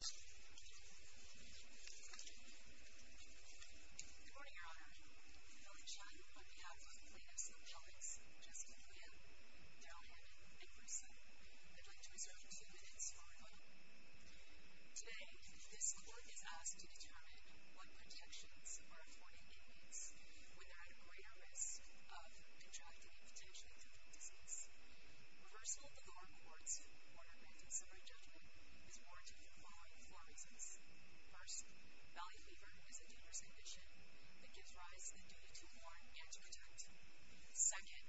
Good morning, Your Honor. Billingshine, on behalf of the plaintiffs' colleagues, Justice Aluya, Darrell Hammond, and Bruce Sun, I'd like to reserve two minutes for rebuttal. Today, this court is asked to determine what protections are afforded inmates when they're at greater risk of contracting a potentially complete disease. First, the lower court's order granting summary judgment is warranted for the following four reasons. First, Valley Fever is a dangerous condition that gives rise to the duty to warn and to protect. Second,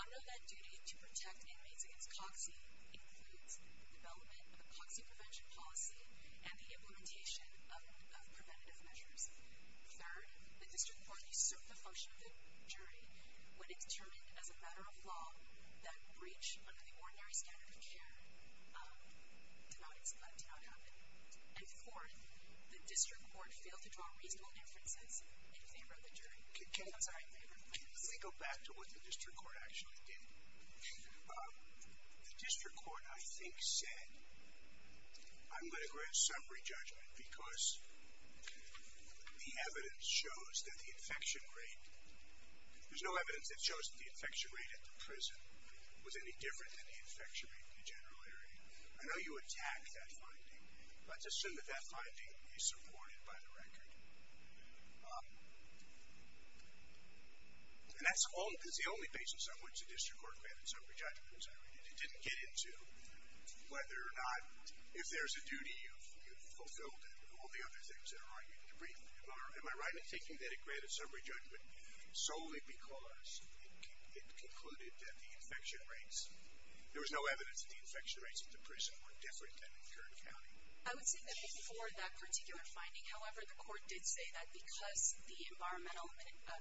under that duty to protect inmates against COXI includes the development of a COXI prevention policy and the implementation of preventative measures. Third, the district court usurped the function of the jury when it determined as a matter of law that breach under the ordinary standard of care did not happen. And fourth, the district court failed to draw reasonable inferences in favor of the jury. Can we go back to what the district court actually did? The district court, I think, said, I'm going to grant summary judgment because the evidence shows that the infection rate, there's no evidence that shows that the infection rate at the prison was any different than the infection rate in the general area. I know you attack that finding. Let's assume that that finding is supported by the record. And that's the only basis on which the district court granted summary judgment. It didn't get into whether or not, if there's a duty fulfilled and all the other things that are argued in the brief. Am I right in thinking that it granted summary judgment solely because it concluded that the infection rates, there was no evidence that the infection rates at the prison were different than in Kern County? I would say that before that particular finding, however, the court did say that because the environmental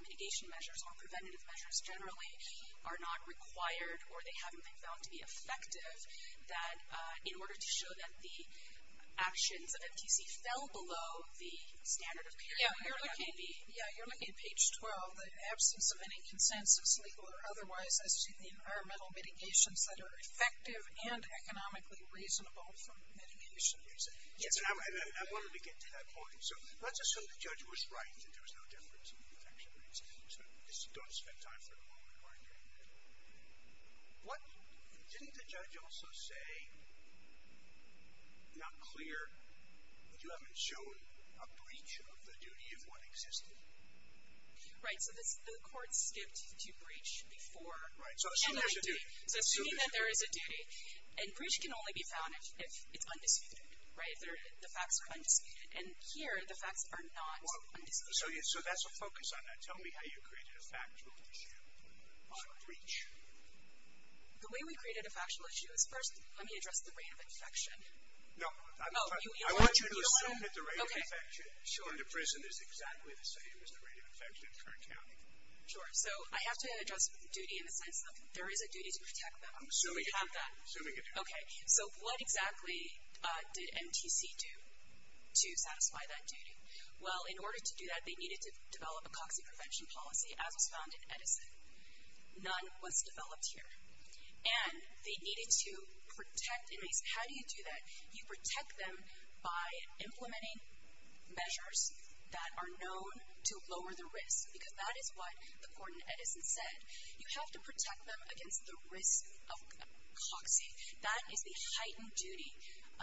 mitigation measures or preventative measures generally are not required or they haven't been found to be effective, that in order to show that the actions of MTC fell below the standard of care, you're looking at page 12, the absence of any consensus, legal or otherwise, as to the environmental mitigations that are effective and economically reasonable for mitigation reasons. Yes, and I wanted to get to that point. So let's assume the judge was right that there was no difference in the infection rates. So just don't spend time for the moment wondering. Didn't the judge also say, not clear, that you haven't shown a breach of the duty of what existed? Right, so the court skipped to breach before. Right, so assuming there's a duty. And breach can only be found if it's undisputed, right, if the facts are undisputed. And here, the facts are not undisputed. So that's a focus on that. Tell me how you created a factual issue on breach. The way we created a factual issue is, first, let me address the rate of infection. No, I want you to assume that the rate of infection under prison is exactly the same as the rate of infection in Kern County. Sure, so I have to address duty in the sense of there is a duty to protect them. So we have that. Okay, so what exactly did MTC do to satisfy that duty? Well, in order to do that, they needed to develop a COXI prevention policy, as was found in Edison. None was developed here. And they needed to protect inmates. How do you do that? You protect them by implementing measures that are known to lower the risk, because that is what the court in Edison said. You have to protect them against the risk of COXI. That is the heightened duty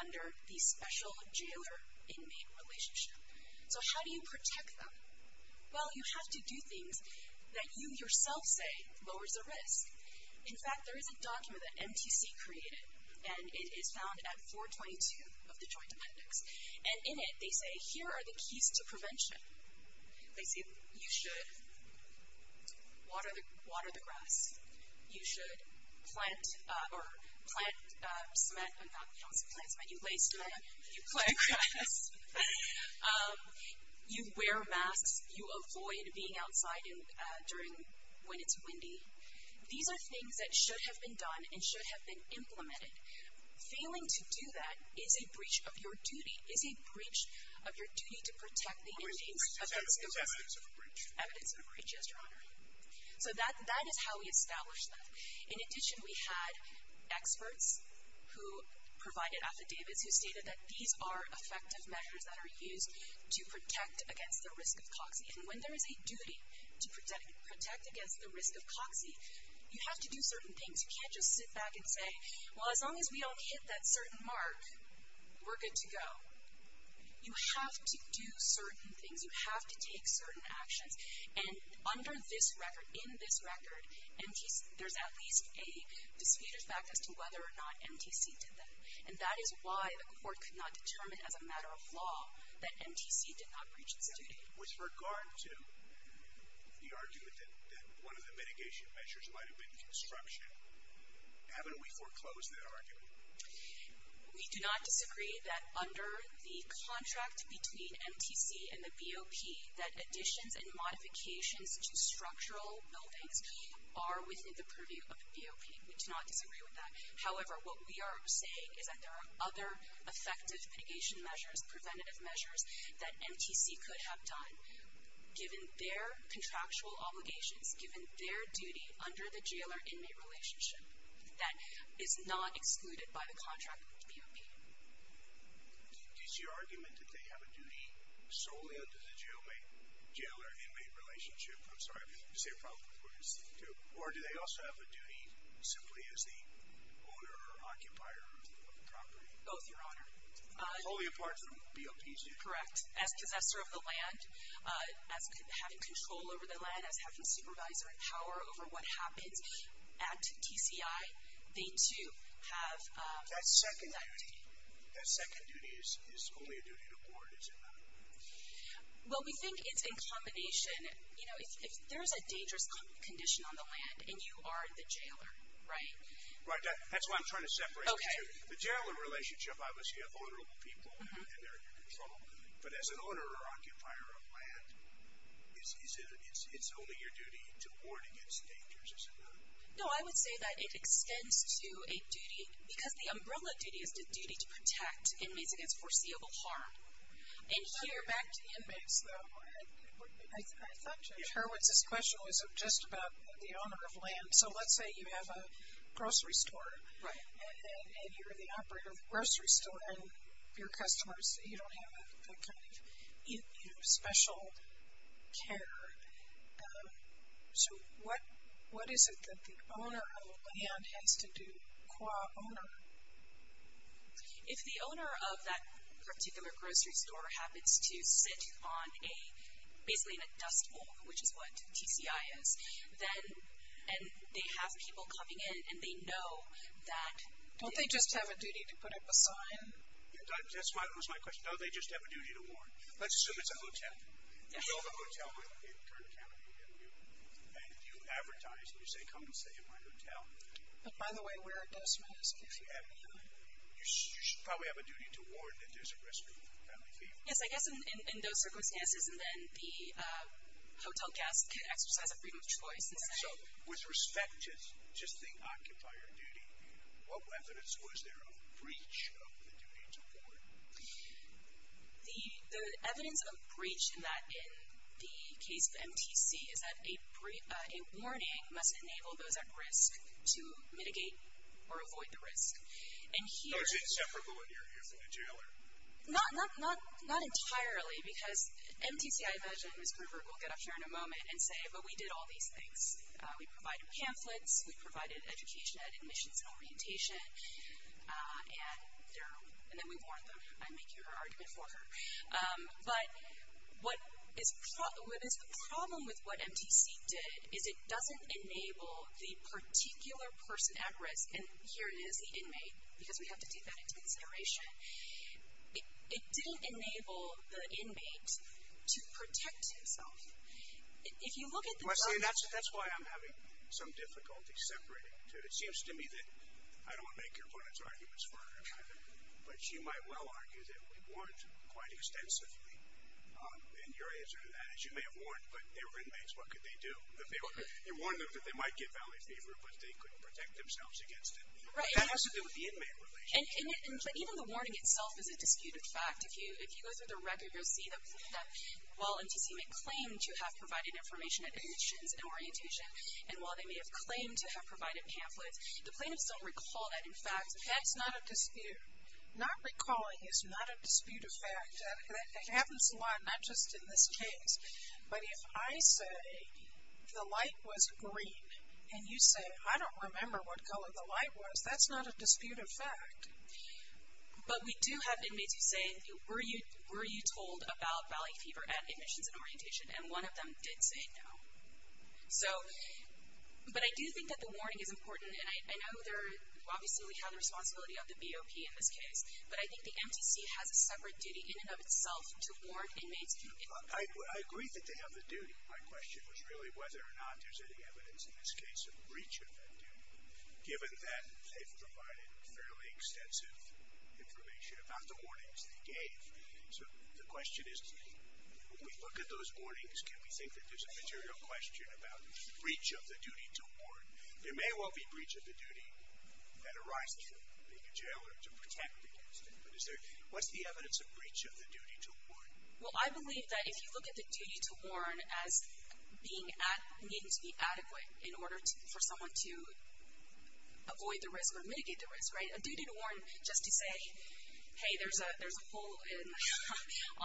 under the special jailer-inmate relationship. So how do you protect them? Well, you have to do things that you yourself say lowers the risk. In fact, there is a document that MTC created, and it is found at 422 of the Joint Appendix. Lacey, you should water the grass. You should plant cement. You lay cement. You plant grass. You wear masks. You avoid being outside when it's windy. These are things that should have been done and should have been implemented. Failing to do that is a breach of your duty, is a breach of your duty to protect the inmates. Evidence of a breach. Evidence of a breach, yes, Your Honor. So that is how we established that. In addition, we had experts who provided affidavits who stated that these are effective measures that are used to protect against the risk of COXI. And when there is a duty to protect against the risk of COXI, you have to do certain things. You can't just sit back and say, Well, as long as we don't hit that certain mark, we're good to go. You have to do certain things. You have to take certain actions. And under this record, in this record, there's at least a disputed fact as to whether or not MTC did that. And that is why the court could not determine as a matter of law that MTC did not breach its duty. With regard to the argument that one of the mitigation measures might have been construction, haven't we foreclosed that argument? We do not disagree that under the contract between MTC and the BOP that additions and modifications to structural buildings are within the purview of the BOP. We do not disagree with that. However, what we are saying is that there are other effective mitigation measures, preventative measures, that MTC could have done, given their contractual obligations, given their duty under the jailer-inmate relationship that is not excluded by the contract with the BOP. Is your argument that they have a duty solely under the jailer-inmate relationship? I'm sorry. Is there a problem with what you're saying, too? Or do they also have a duty simply as the owner or occupier of the property? Both, Your Honor. Totally apart from BOP's duty. Correct. As possessor of the land, as having control over the land, as having supervisory power over what happens at TCI, they, too, have that duty. That second duty is only a duty to board, is it not? Well, we think it's in combination. You know, if there's a dangerous condition on the land and you are the jailer, right? Right. That's why I'm trying to separate the two. Okay. The jailer-in-relationship, obviously, you have honorable people and they're in control of the land. But as an owner or occupier of land, it's only your duty to board against dangers, is it not? No, I would say that it extends to a duty because the umbrella duty is the duty to protect inmates against foreseeable harm. And here, back to the inmates, though. I thought Judge Hurwitz's question was just about the owner of land. So let's say you have a grocery store. Right. And you're the operator of the grocery store and your customers, you don't have the kind of special care. So what is it that the owner of the land has to do, qua owner? If the owner of that particular grocery store happens to sit on a – basically in a dust bowl, which is what TCI is, and they have people coming in and they know that – Don't they just have a duty to put up a sign? That was my question. Don't they just have a duty to warn? Let's assume it's a hotel. You go to a hotel in Kern County and you advertise, and you say, come and stay at my hotel. But by the way, where are those menus? You should probably have a duty to warn that there's a risk of family fear. Yes, I guess in those circumstances, and then the hotel guest could exercise a freedom of choice. So with respect to the occupier duty, what evidence was there of breach of the duty to warn? The evidence of breach in the case of MTC is that a warning must enable those at risk to mitigate or avoid the risk. No, it's inseparable when you're here from the jailer. Not entirely, because MTC, I imagine, Ms. Gruver will get up here in a moment and say, but we did all these things. We provided pamphlets, we provided education and admissions and orientation, and then we warned them. I make your argument for her. But what is the problem with what MTC did is it doesn't enable the particular person at risk, and here it is, the inmate, because we have to take that into consideration. It didn't enable the inmate to protect himself. That's why I'm having some difficulty separating the two. It seems to me that I don't want to make your opponent's arguments further, but you might well argue that we warned quite extensively. And your answer to that is you may have warned, but they were inmates. What could they do? You warned them that they might get family fever, but they couldn't protect themselves against it. That has to do with the inmate relationship. But even the warning itself is a disputed fact. If you go through the record, you'll see that while MTC may claim to have provided information and admissions and orientation, and while they may have claimed to have provided pamphlets, the plaintiffs don't recall that, in fact, that's not a dispute. Not recalling is not a disputed fact. It happens a lot, not just in this case. But if I say the light was green, and you say, I don't remember what color the light was, that's not a disputed fact. But we do have inmates who say, were you told about family fever and admissions and orientation? And one of them did say no. So, but I do think that the warning is important, and I know there obviously we have the responsibility of the BOP in this case, but I think the MTC has a separate duty in and of itself to warn inmates. I agree that they have the duty. My question was really whether or not there's any evidence in this case of breach of that duty. Given that they've provided fairly extensive information about the warnings they gave. So the question is, when we look at those warnings, can we think that there's a material question about breach of the duty to warn? There may well be breach of the duty that arises from being a jailer to protect the inmate. What's the evidence of breach of the duty to warn? Well, I believe that if you look at the duty to warn as needing to be adequate in order for someone to avoid the risk or mitigate the risk, right? A duty to warn just to say, hey, there's a hole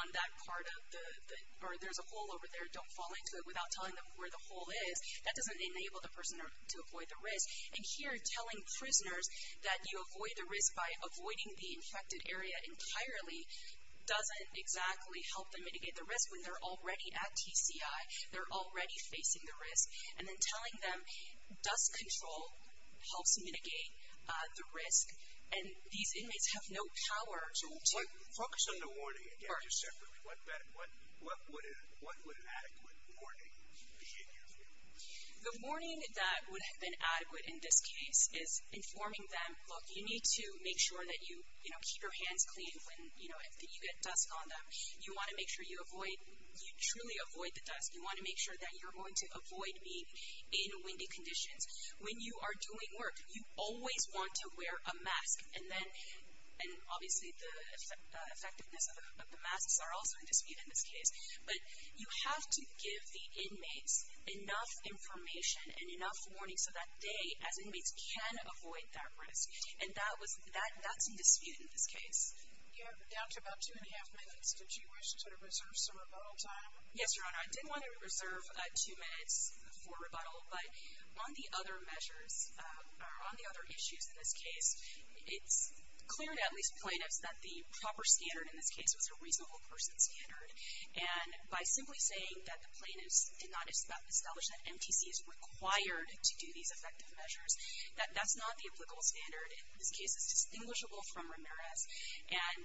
on that part of the, or there's a hole over there, don't fall into it, without telling them where the hole is, that doesn't enable the person to avoid the risk. And here, telling prisoners that you avoid the risk by avoiding the infected area entirely doesn't exactly help them mitigate the risk when they're already at TCI, they're already facing the risk. And then telling them dust control helps mitigate the risk, and these inmates have no power to focus on the first. So the warning, again, just separately, what would an adequate warning be in your view? The warning that would have been adequate in this case is informing them, look, you need to make sure that you keep your hands clean when you get dust on them. You want to make sure you truly avoid the dust. You want to make sure that you're going to avoid being in windy conditions. When you are doing work, you always want to wear a mask. And obviously the effectiveness of the masks are also in dispute in this case. But you have to give the inmates enough information and enough warning so that they, as inmates, can avoid that risk. And that's in dispute in this case. Yeah, down to about two and a half minutes. Did you wish to reserve some rebuttal time? Yes, Your Honor. I did want to reserve two minutes for rebuttal. But on the other measures, or on the other issues in this case, it's clear to at least plaintiffs that the proper standard in this case was a reasonable person standard. And by simply saying that the plaintiffs did not establish that MTC is required to do these effective measures, that's not the applicable standard in this case. It's distinguishable from Ramirez. And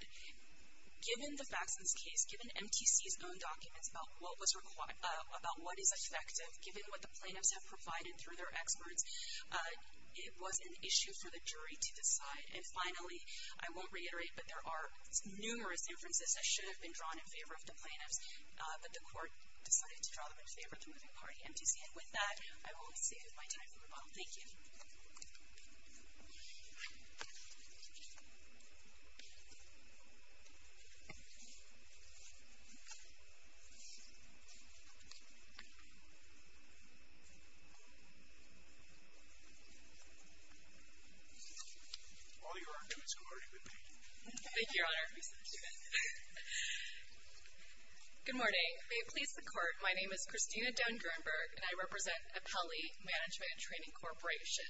given the facts in this case, given MTC's own documents about what is effective, given what the plaintiffs have provided through their experts, it was an issue for the jury to decide. And finally, I won't reiterate, but there are numerous inferences that should have been drawn in favor of the plaintiffs, but the court decided to draw them in favor of the moving party, MTC. And with that, I will save my time for rebuttal. Thank you. All your arguments, Your Honor, you may begin. Thank you, Your Honor. Good morning. May it please the Court, my name is Christina Dunn-Gernberg, and I represent Apelli Management and Training Corporation.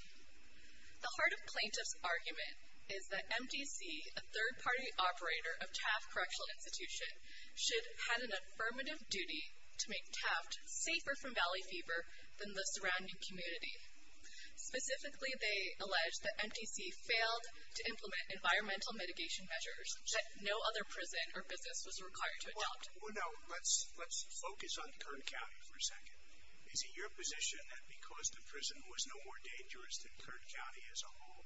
The heart of plaintiff's argument is that MTC, a third-party operator of Taft Correctional Institution, should have an affirmative duty to make Taft safer from valley fever than the surrounding community. Specifically, they allege that MTC failed to implement environmental mitigation measures that no other prison or business was required to adopt. Now, let's focus on Kern County for a second. Is it your position that because the prison was no more dangerous than Kern County as a whole,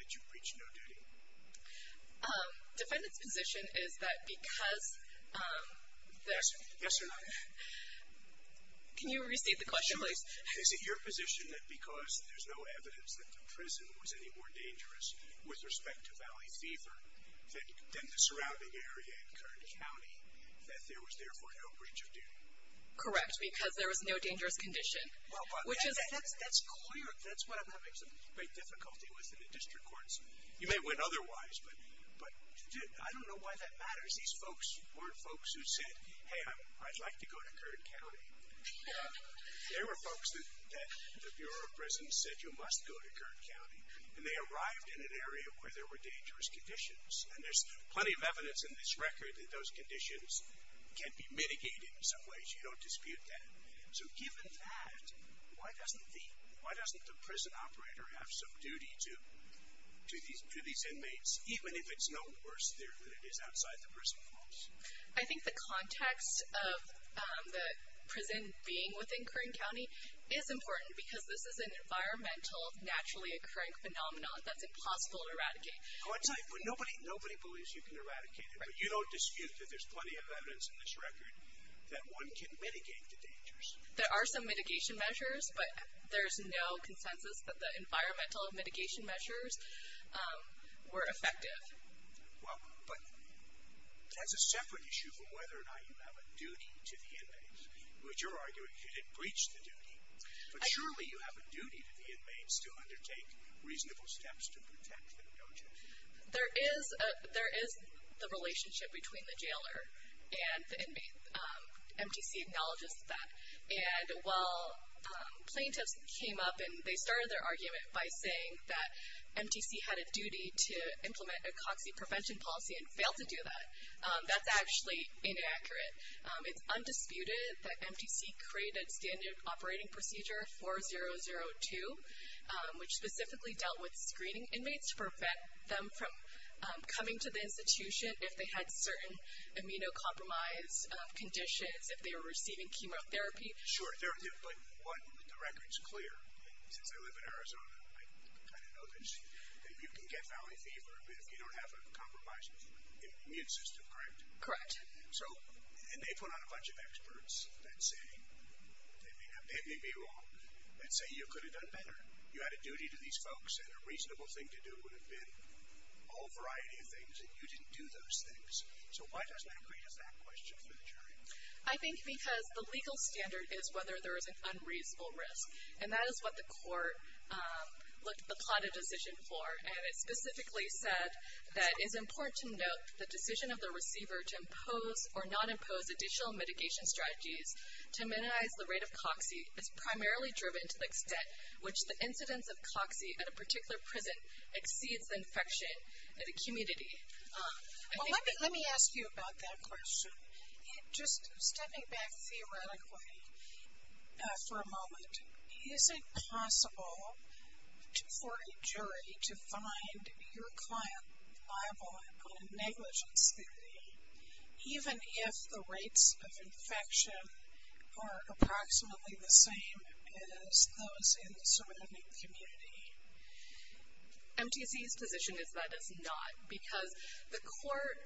that you breached no duty? Defendant's position is that because the... Yes, Your Honor. Can you restate the question, please? Sure. Is it your position that because there's no evidence that the prison was any more dangerous with respect to valley fever than the surrounding area in Kern County, that there was therefore no breach of duty? Correct, because there was no dangerous condition. Well, that's clear. That's what I'm having some great difficulty with in the district courts. You may win otherwise, but I don't know why that matters. These folks weren't folks who said, hey, I'd like to go to Kern County. They were folks that the Bureau of Prisons said you must go to Kern County, and they arrived in an area where there were dangerous conditions, and there's plenty of evidence in this record that those conditions can be mitigated in some ways. You don't dispute that. So given that, why doesn't the prison operator have some duty to these inmates, even if it's no worse there than it is outside the prison walls? I think the context of the prison being within Kern County is important because this is an environmental, naturally occurring phenomenon that's impossible to eradicate. Nobody believes you can eradicate it, but you don't dispute that there's plenty of evidence in this record that one can mitigate the dangers. There are some mitigation measures, but there's no consensus that the environmental mitigation measures were effective. Well, but that's a separate issue from whether or not you have a duty to the inmates, which you're arguing you didn't breach the duty. But surely you have a duty to the inmates to undertake reasonable steps to protect them, don't you? There is the relationship between the jailer and the inmate. MTC acknowledges that. And while plaintiffs came up and they started their argument by saying that MTC had a duty to implement a COXI prevention policy and failed to do that, that's actually inaccurate. It's undisputed that MTC created standard operating procedure 4002, which specifically dealt with screening inmates to prevent them from coming to the institution if they had certain immunocompromised conditions, if they were receiving chemotherapy. Sure, but the record's clear. Since I live in Arizona, I kind of know this. You can get Valley fever if you don't have a compromised immune system, correct? Correct. So, and they put on a bunch of experts that say, they may be wrong, that say you could have done better. You had a duty to these folks, and a reasonable thing to do would have been a whole variety of things, and you didn't do those things. So why doesn't that create a fact question for the jury? I think because the legal standard is whether there is an unreasonable risk, and that is what the court looked upon a decision for. And it specifically said that it is important to note the decision of the receiver to impose or not impose additional mitigation strategies to minimize the rate of COX-E is primarily driven to the extent which the incidence of COX-E at a particular prison exceeds the infection in a community. Well, let me ask you about that question. Just stepping back theoretically for a moment, is it possible for a jury to find your client liable on a negligence theory, even if the rates of infection are approximately the same as those in the surrounding community? MTC's position is that it's not, because the court,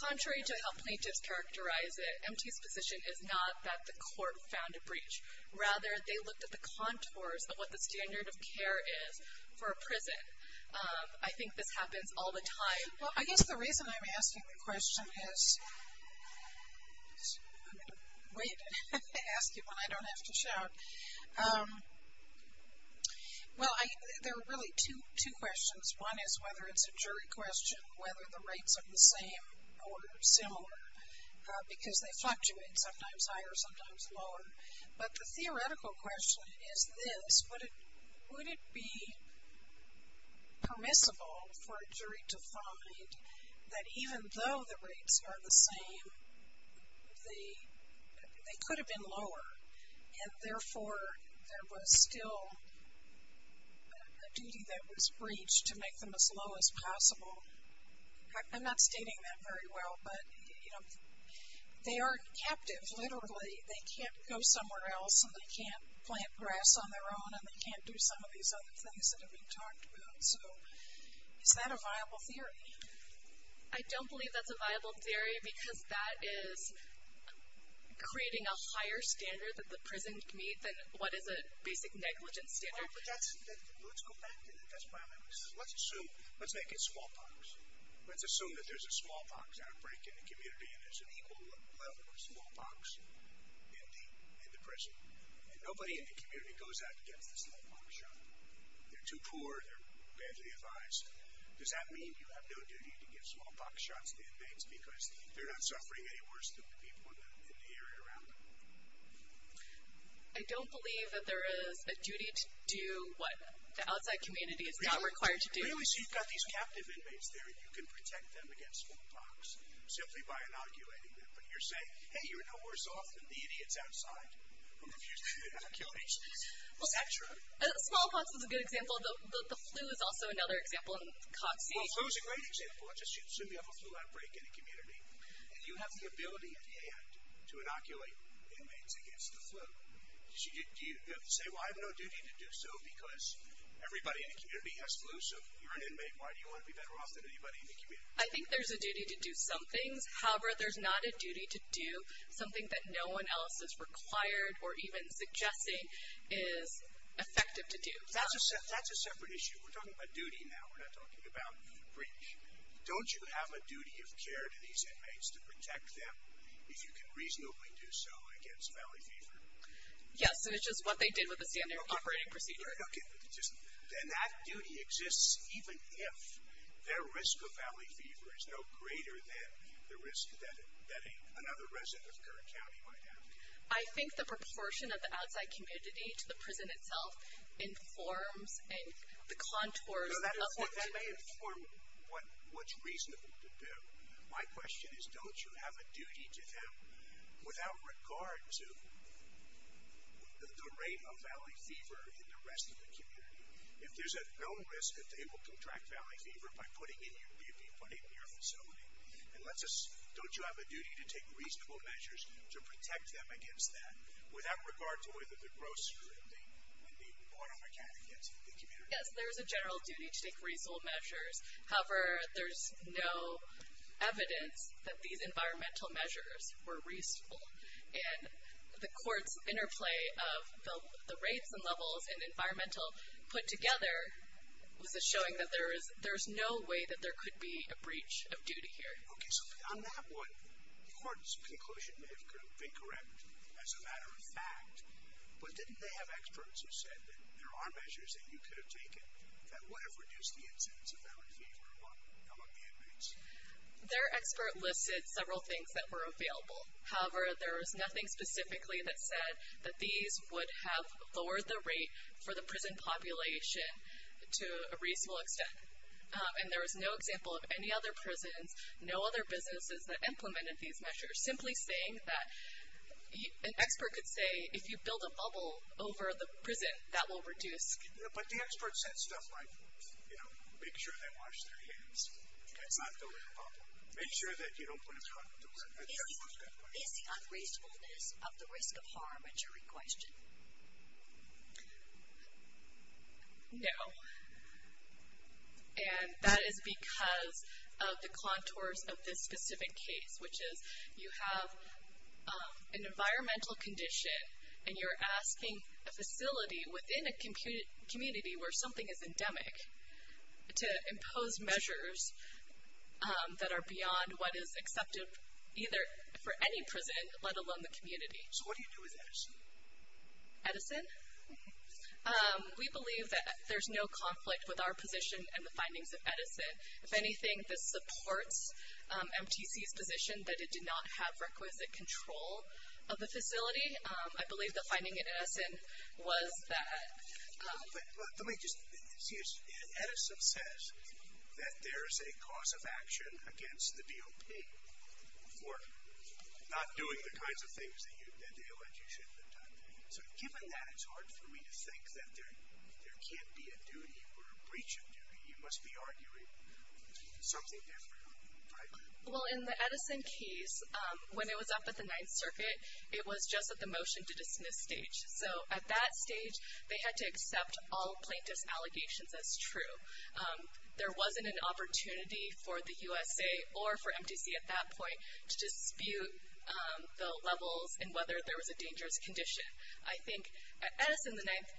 contrary to how plaintiffs characterize it, MTC's position is not that the court found a breach. Rather, they looked at the contours of what the standard of care is for a prison. I think this happens all the time. Well, I guess the reason I'm asking the question is, I'm going to wait and ask it when I don't have to shout. Well, there are really two questions. One is whether it's a jury question, whether the rates are the same or similar, because they fluctuate sometimes higher, sometimes lower. But the theoretical question is this. Would it be permissible for a jury to find that even though the rates are the same, they could have been lower, and therefore there was still a duty that was breached to make them as low as possible? I'm not stating that very well, but, you know, they aren't captive, literally. They can't go somewhere else, and they can't plant grass on their own, and they can't do some of these other things that have been talked about. So is that a viable theory? I don't believe that's a viable theory, because that is creating a higher standard that the prison can meet than what is a basic negligence standard. Let's go back to that. That's why I'm asking. Let's assume, let's make it smallpox. Let's assume that there's a smallpox outbreak in the community, and there's an equal level of smallpox in the prison, and nobody in the community goes out to get the smallpox shot. They're too poor. They're badly advised. Does that mean you have no duty to give smallpox shots to inmates because they're not suffering any worse than the people in the area around them? I don't believe that there is a duty to do what the outside community is not required to do. Really, so you've got these captive inmates there, and you can protect them against smallpox simply by inoculating them, but you're saying, hey, you're no worse off than the idiots outside who refuse to inoculate. Is that true? Smallpox is a good example. The flu is also another example. Well, flu is a great example. Let's just assume you have a flu outbreak in a community, and you have the ability at hand to inoculate inmates against the flu. Do you say, well, I have no duty to do so because everybody in the community has flu, so if you're an inmate, why do you want to be better off than anybody in the community? I think there's a duty to do some things. However, there's not a duty to do something that no one else is required or even suggesting is effective to do. That's a separate issue. We're talking about duty now. We're not talking about breach. Don't you have a duty of care to these inmates to protect them if you can reasonably do so against valley fever? Yes, and it's just what they did with the standard operating procedure. Okay. Then that duty exists even if their risk of valley fever is no greater than the risk that another resident of Kern County might have. I think the proportion of the outside community to the prison itself informs and the contours of what they do. That may inform what's reasonable to do. My question is, don't you have a duty to them without regard to the rate of valley fever in the rest of the community? If there's at no risk that they will contract valley fever by putting in your facility, don't you have a duty to take reasonable measures to protect them against that without regard to whether the grocers or the auto mechanics in the community? Yes, there is a general duty to take reasonable measures. However, there's no evidence that these environmental measures were reasonable, and the court's interplay of the rates and levels and environmental put together was showing that there's no way that there could be a breach of duty here. Okay, so on that one, the court's conclusion may have been correct as a matter of fact, but didn't they have experts who said that there are measures that you could have taken that would have reduced the incidence of valley fever among the inmates? Their expert listed several things that were available. However, there was nothing specifically that said that these would have lowered the rate for the prison population to a reasonable extent, and there was no example of any other prisons, no other businesses that implemented these measures, simply saying that an expert could say if you build a bubble over the prison, that will reduce. But the expert said stuff like, you know, make sure they wash their hands. It's not building a bubble. Make sure that you don't put in front of the door. Is the unreasonableness of the risk of harm a jury question? No. And that is because of the contours of this specific case, which is you have an environmental condition, and you're asking a facility within a community where something is endemic to impose measures that are beyond what is accepted either for any prison, let alone the community. So what do you do with Edison? Edison? We believe that there's no conflict with our position and the findings of Edison. If anything, this supports MTC's position that it did not have requisite control of the facility. I believe the finding in Edison was that ---- Let me just ---- Edison says that there is a cause of action against the DOP for not doing the kinds of things that they alleged you should have done. So given that, it's hard for me to think that there can't be a duty or a breach of duty. You must be arguing something different, right? Well, in the Edison case, when it was up at the Ninth Circuit, it was just at the motion to dismiss stage. So at that stage, they had to accept all plaintiff's allegations as true. There wasn't an opportunity for the USA or for MTC at that point to dispute the levels and whether there was a dangerous condition. I think Edison and the Ninth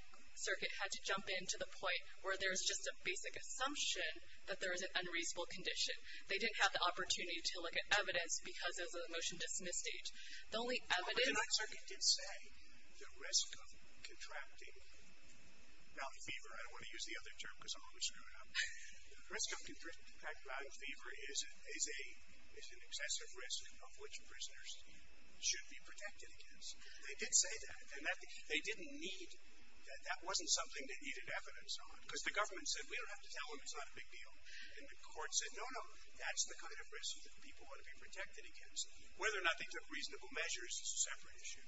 Circuit had to jump in to the point where there's just a basic assumption that there is an unreasonable condition. They didn't have the opportunity to look at evidence because of the motion to dismiss stage. The only evidence ---- The Ninth Circuit did say the risk of contracting mouth fever. I don't want to use the other term because I'm always screwed up. The risk of contracting mouth fever is an excessive risk of which prisoners should be protected against. They did say that, and that wasn't something they needed evidence on because the government said we don't have to tell them it's not a big deal. And the court said, no, no, that's the kind of risk that people want to be protected against. Whether or not they took reasonable measures is a separate issue.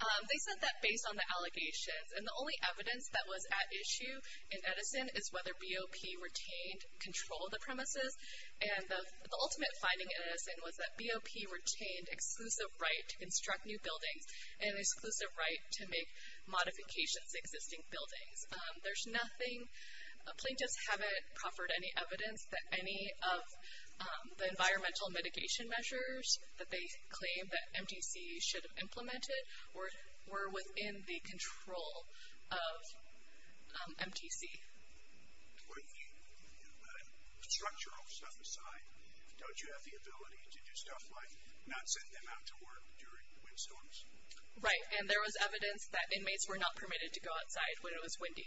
They said that based on the allegations. And the only evidence that was at issue in Edison is whether BOP retained control of the premises. And the ultimate finding in Edison was that BOP retained exclusive right to construct new buildings and an exclusive right to make modifications to existing buildings. There's nothing ---- plaintiffs haven't proffered any evidence that any of the environmental mitigation measures that they claim that MTC should have implemented were within the control of MTC. With the structural stuff aside, don't you have the ability to do stuff like not send them out to work during windstorms? Right, and there was evidence that inmates were not permitted to go outside when it was windy.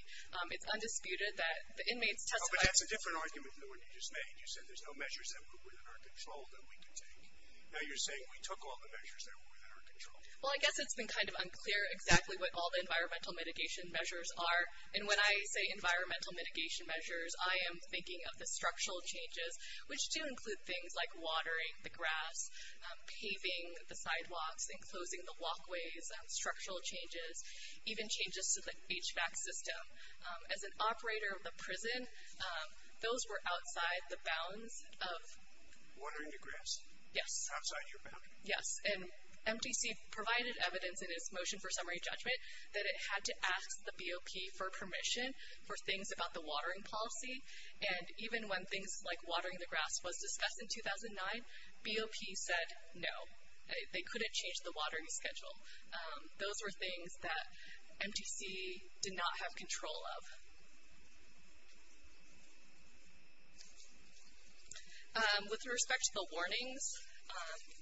It's undisputed that the inmates testified ---- Oh, but that's a different argument than the one you just made. You said there's no measures that were within our control that we could take. Now you're saying we took all the measures that were within our control. Well, I guess it's been kind of unclear exactly what all the environmental mitigation measures are. And when I say environmental mitigation measures, I am thinking of the structural changes, which do include things like watering the grass, paving the sidewalks and closing the walkways, structural changes, even changes to the HVAC system. As an operator of the prison, those were outside the bounds of ---- Watering the grass? Yes. Outside your bounds? Yes. And MTC provided evidence in its motion for summary judgment that it had to ask the BOP for permission for things about the watering policy. And even when things like watering the grass was discussed in 2009, BOP said no. They couldn't change the watering schedule. Those were things that MTC did not have control of. With respect to the warnings,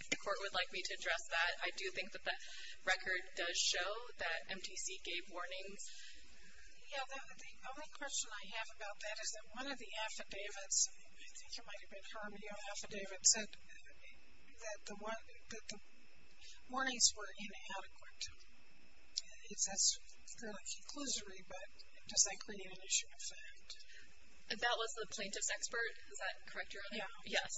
if the court would like me to address that, I do think that the record does show that MTC gave warnings. Yeah, the only question I have about that is that one of the affidavits, I think it might have been Haramio Affidavit, said that the warnings were inadequate. That's kind of like conclusory, but does that include an issue of fact? That was the plaintiff's expert? Is that correct? Yeah. Yes.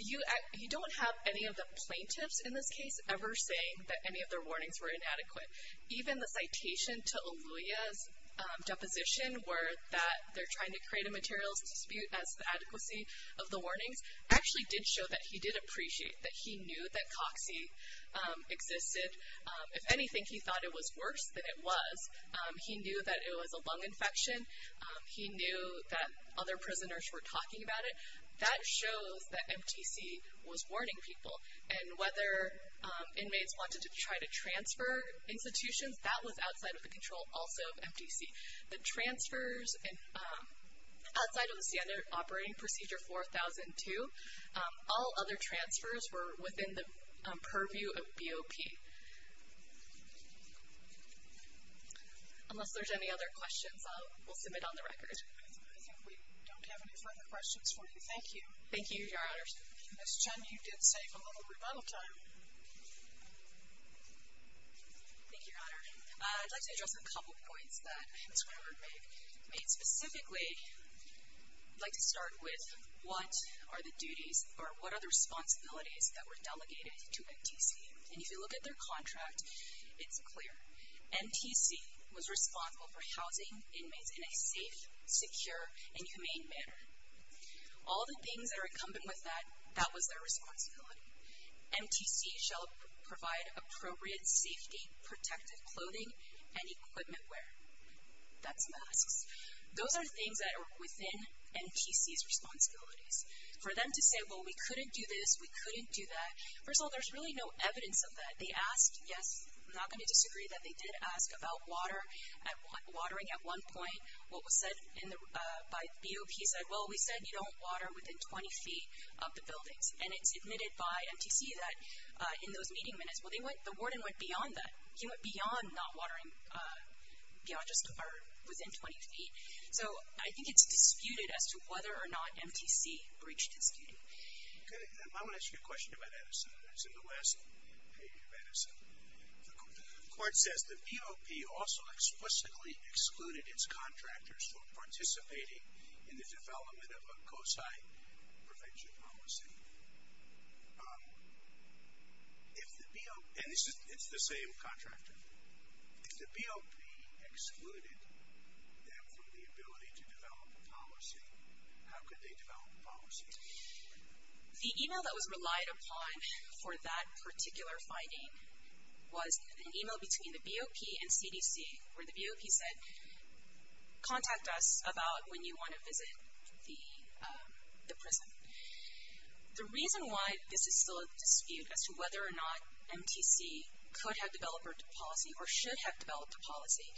You don't have any of the plaintiffs in this case ever saying that any of their warnings were inadequate. Even the citation to Eluia's deposition where they're trying to create a materials dispute as to the adequacy of the warnings actually did show that he did appreciate that he knew that Coxie existed. If anything, he thought it was worse than it was. He knew that it was a lung infection. He knew that other prisoners were talking about it. That shows that MTC was warning people, and whether inmates wanted to try to transfer institutions, that was outside of the control also of MTC. The transfers outside of the standard operating procedure 4002, all other transfers were within the purview of BOP. Unless there's any other questions, we'll submit on the record. I think we don't have any further questions for you. Thank you. Thank you, Your Honors. Ms. Chen, you did save a little rebuttal time. Thank you, Your Honor. I'd like to address a couple points that Ms. Weber made. Specifically, I'd like to start with what are the duties or what are the responsibilities that were delegated to MTC? If you look at their contract, it's clear. MTC was responsible for housing inmates in a safe, secure, and humane manner. All the things that are incumbent with that, that was their responsibility. MTC shall provide appropriate safety, protective clothing, and equipment wear. That's masks. Those are things that are within MTC's responsibilities. For them to say, well, we couldn't do this, we couldn't do that, first of all, there's really no evidence of that. They asked, yes, I'm not going to disagree that they did ask about watering at one point. What was said by BOP said, well, we said you don't water within 20 feet of the buildings. And it's admitted by MTC that in those meeting minutes, well, the warden went beyond that. They all just are within 20 feet. So I think it's disputed as to whether or not MTC breached its duty. Okay. I want to ask you a question about Addison. It's in the last page of Addison. The court says the BOP also explicitly excluded its contractors from participating in the development of a COSI prevention policy. And it's the same contractor. If the BOP excluded them from the ability to develop a policy, how could they develop a policy? The email that was relied upon for that particular finding was an email between the BOP and CDC where the BOP said, contact us about when you want to visit the prison. The reason why this is still a dispute as to whether or not MTC could have developed a policy or should have developed a policy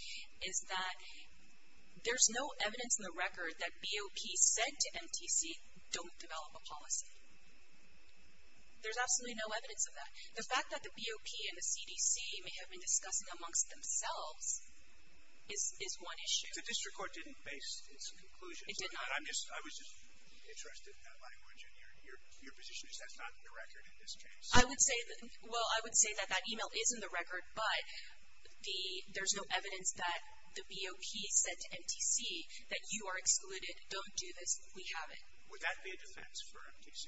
is that there's no evidence in the record that BOP said to MTC don't develop a policy. There's absolutely no evidence of that. The fact that the BOP and the CDC may have been discussing amongst themselves is one issue. The district court didn't base its conclusions. It did not. I was just interested in that language and your position is that's not in the record in this case. Well, I would say that that email is in the record, but there's no evidence that the BOP said to MTC that you are excluded. Don't do this. We have it. Would that be a defense for MTC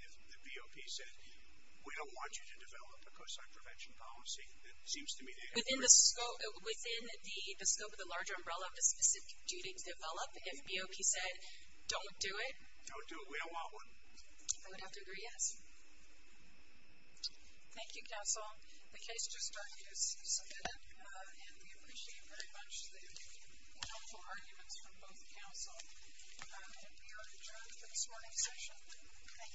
if the BOP said, we don't want you to develop a COSI prevention policy? Within the scope of the larger umbrella of the specific duty to develop, if BOP said, don't do it? Don't do it. We don't want one. I would have to agree, yes. Thank you, counsel. The case just started. You submitted it, and we appreciate very much the helpful arguments from both counsel. We are adjourned for this morning's session. Thank you.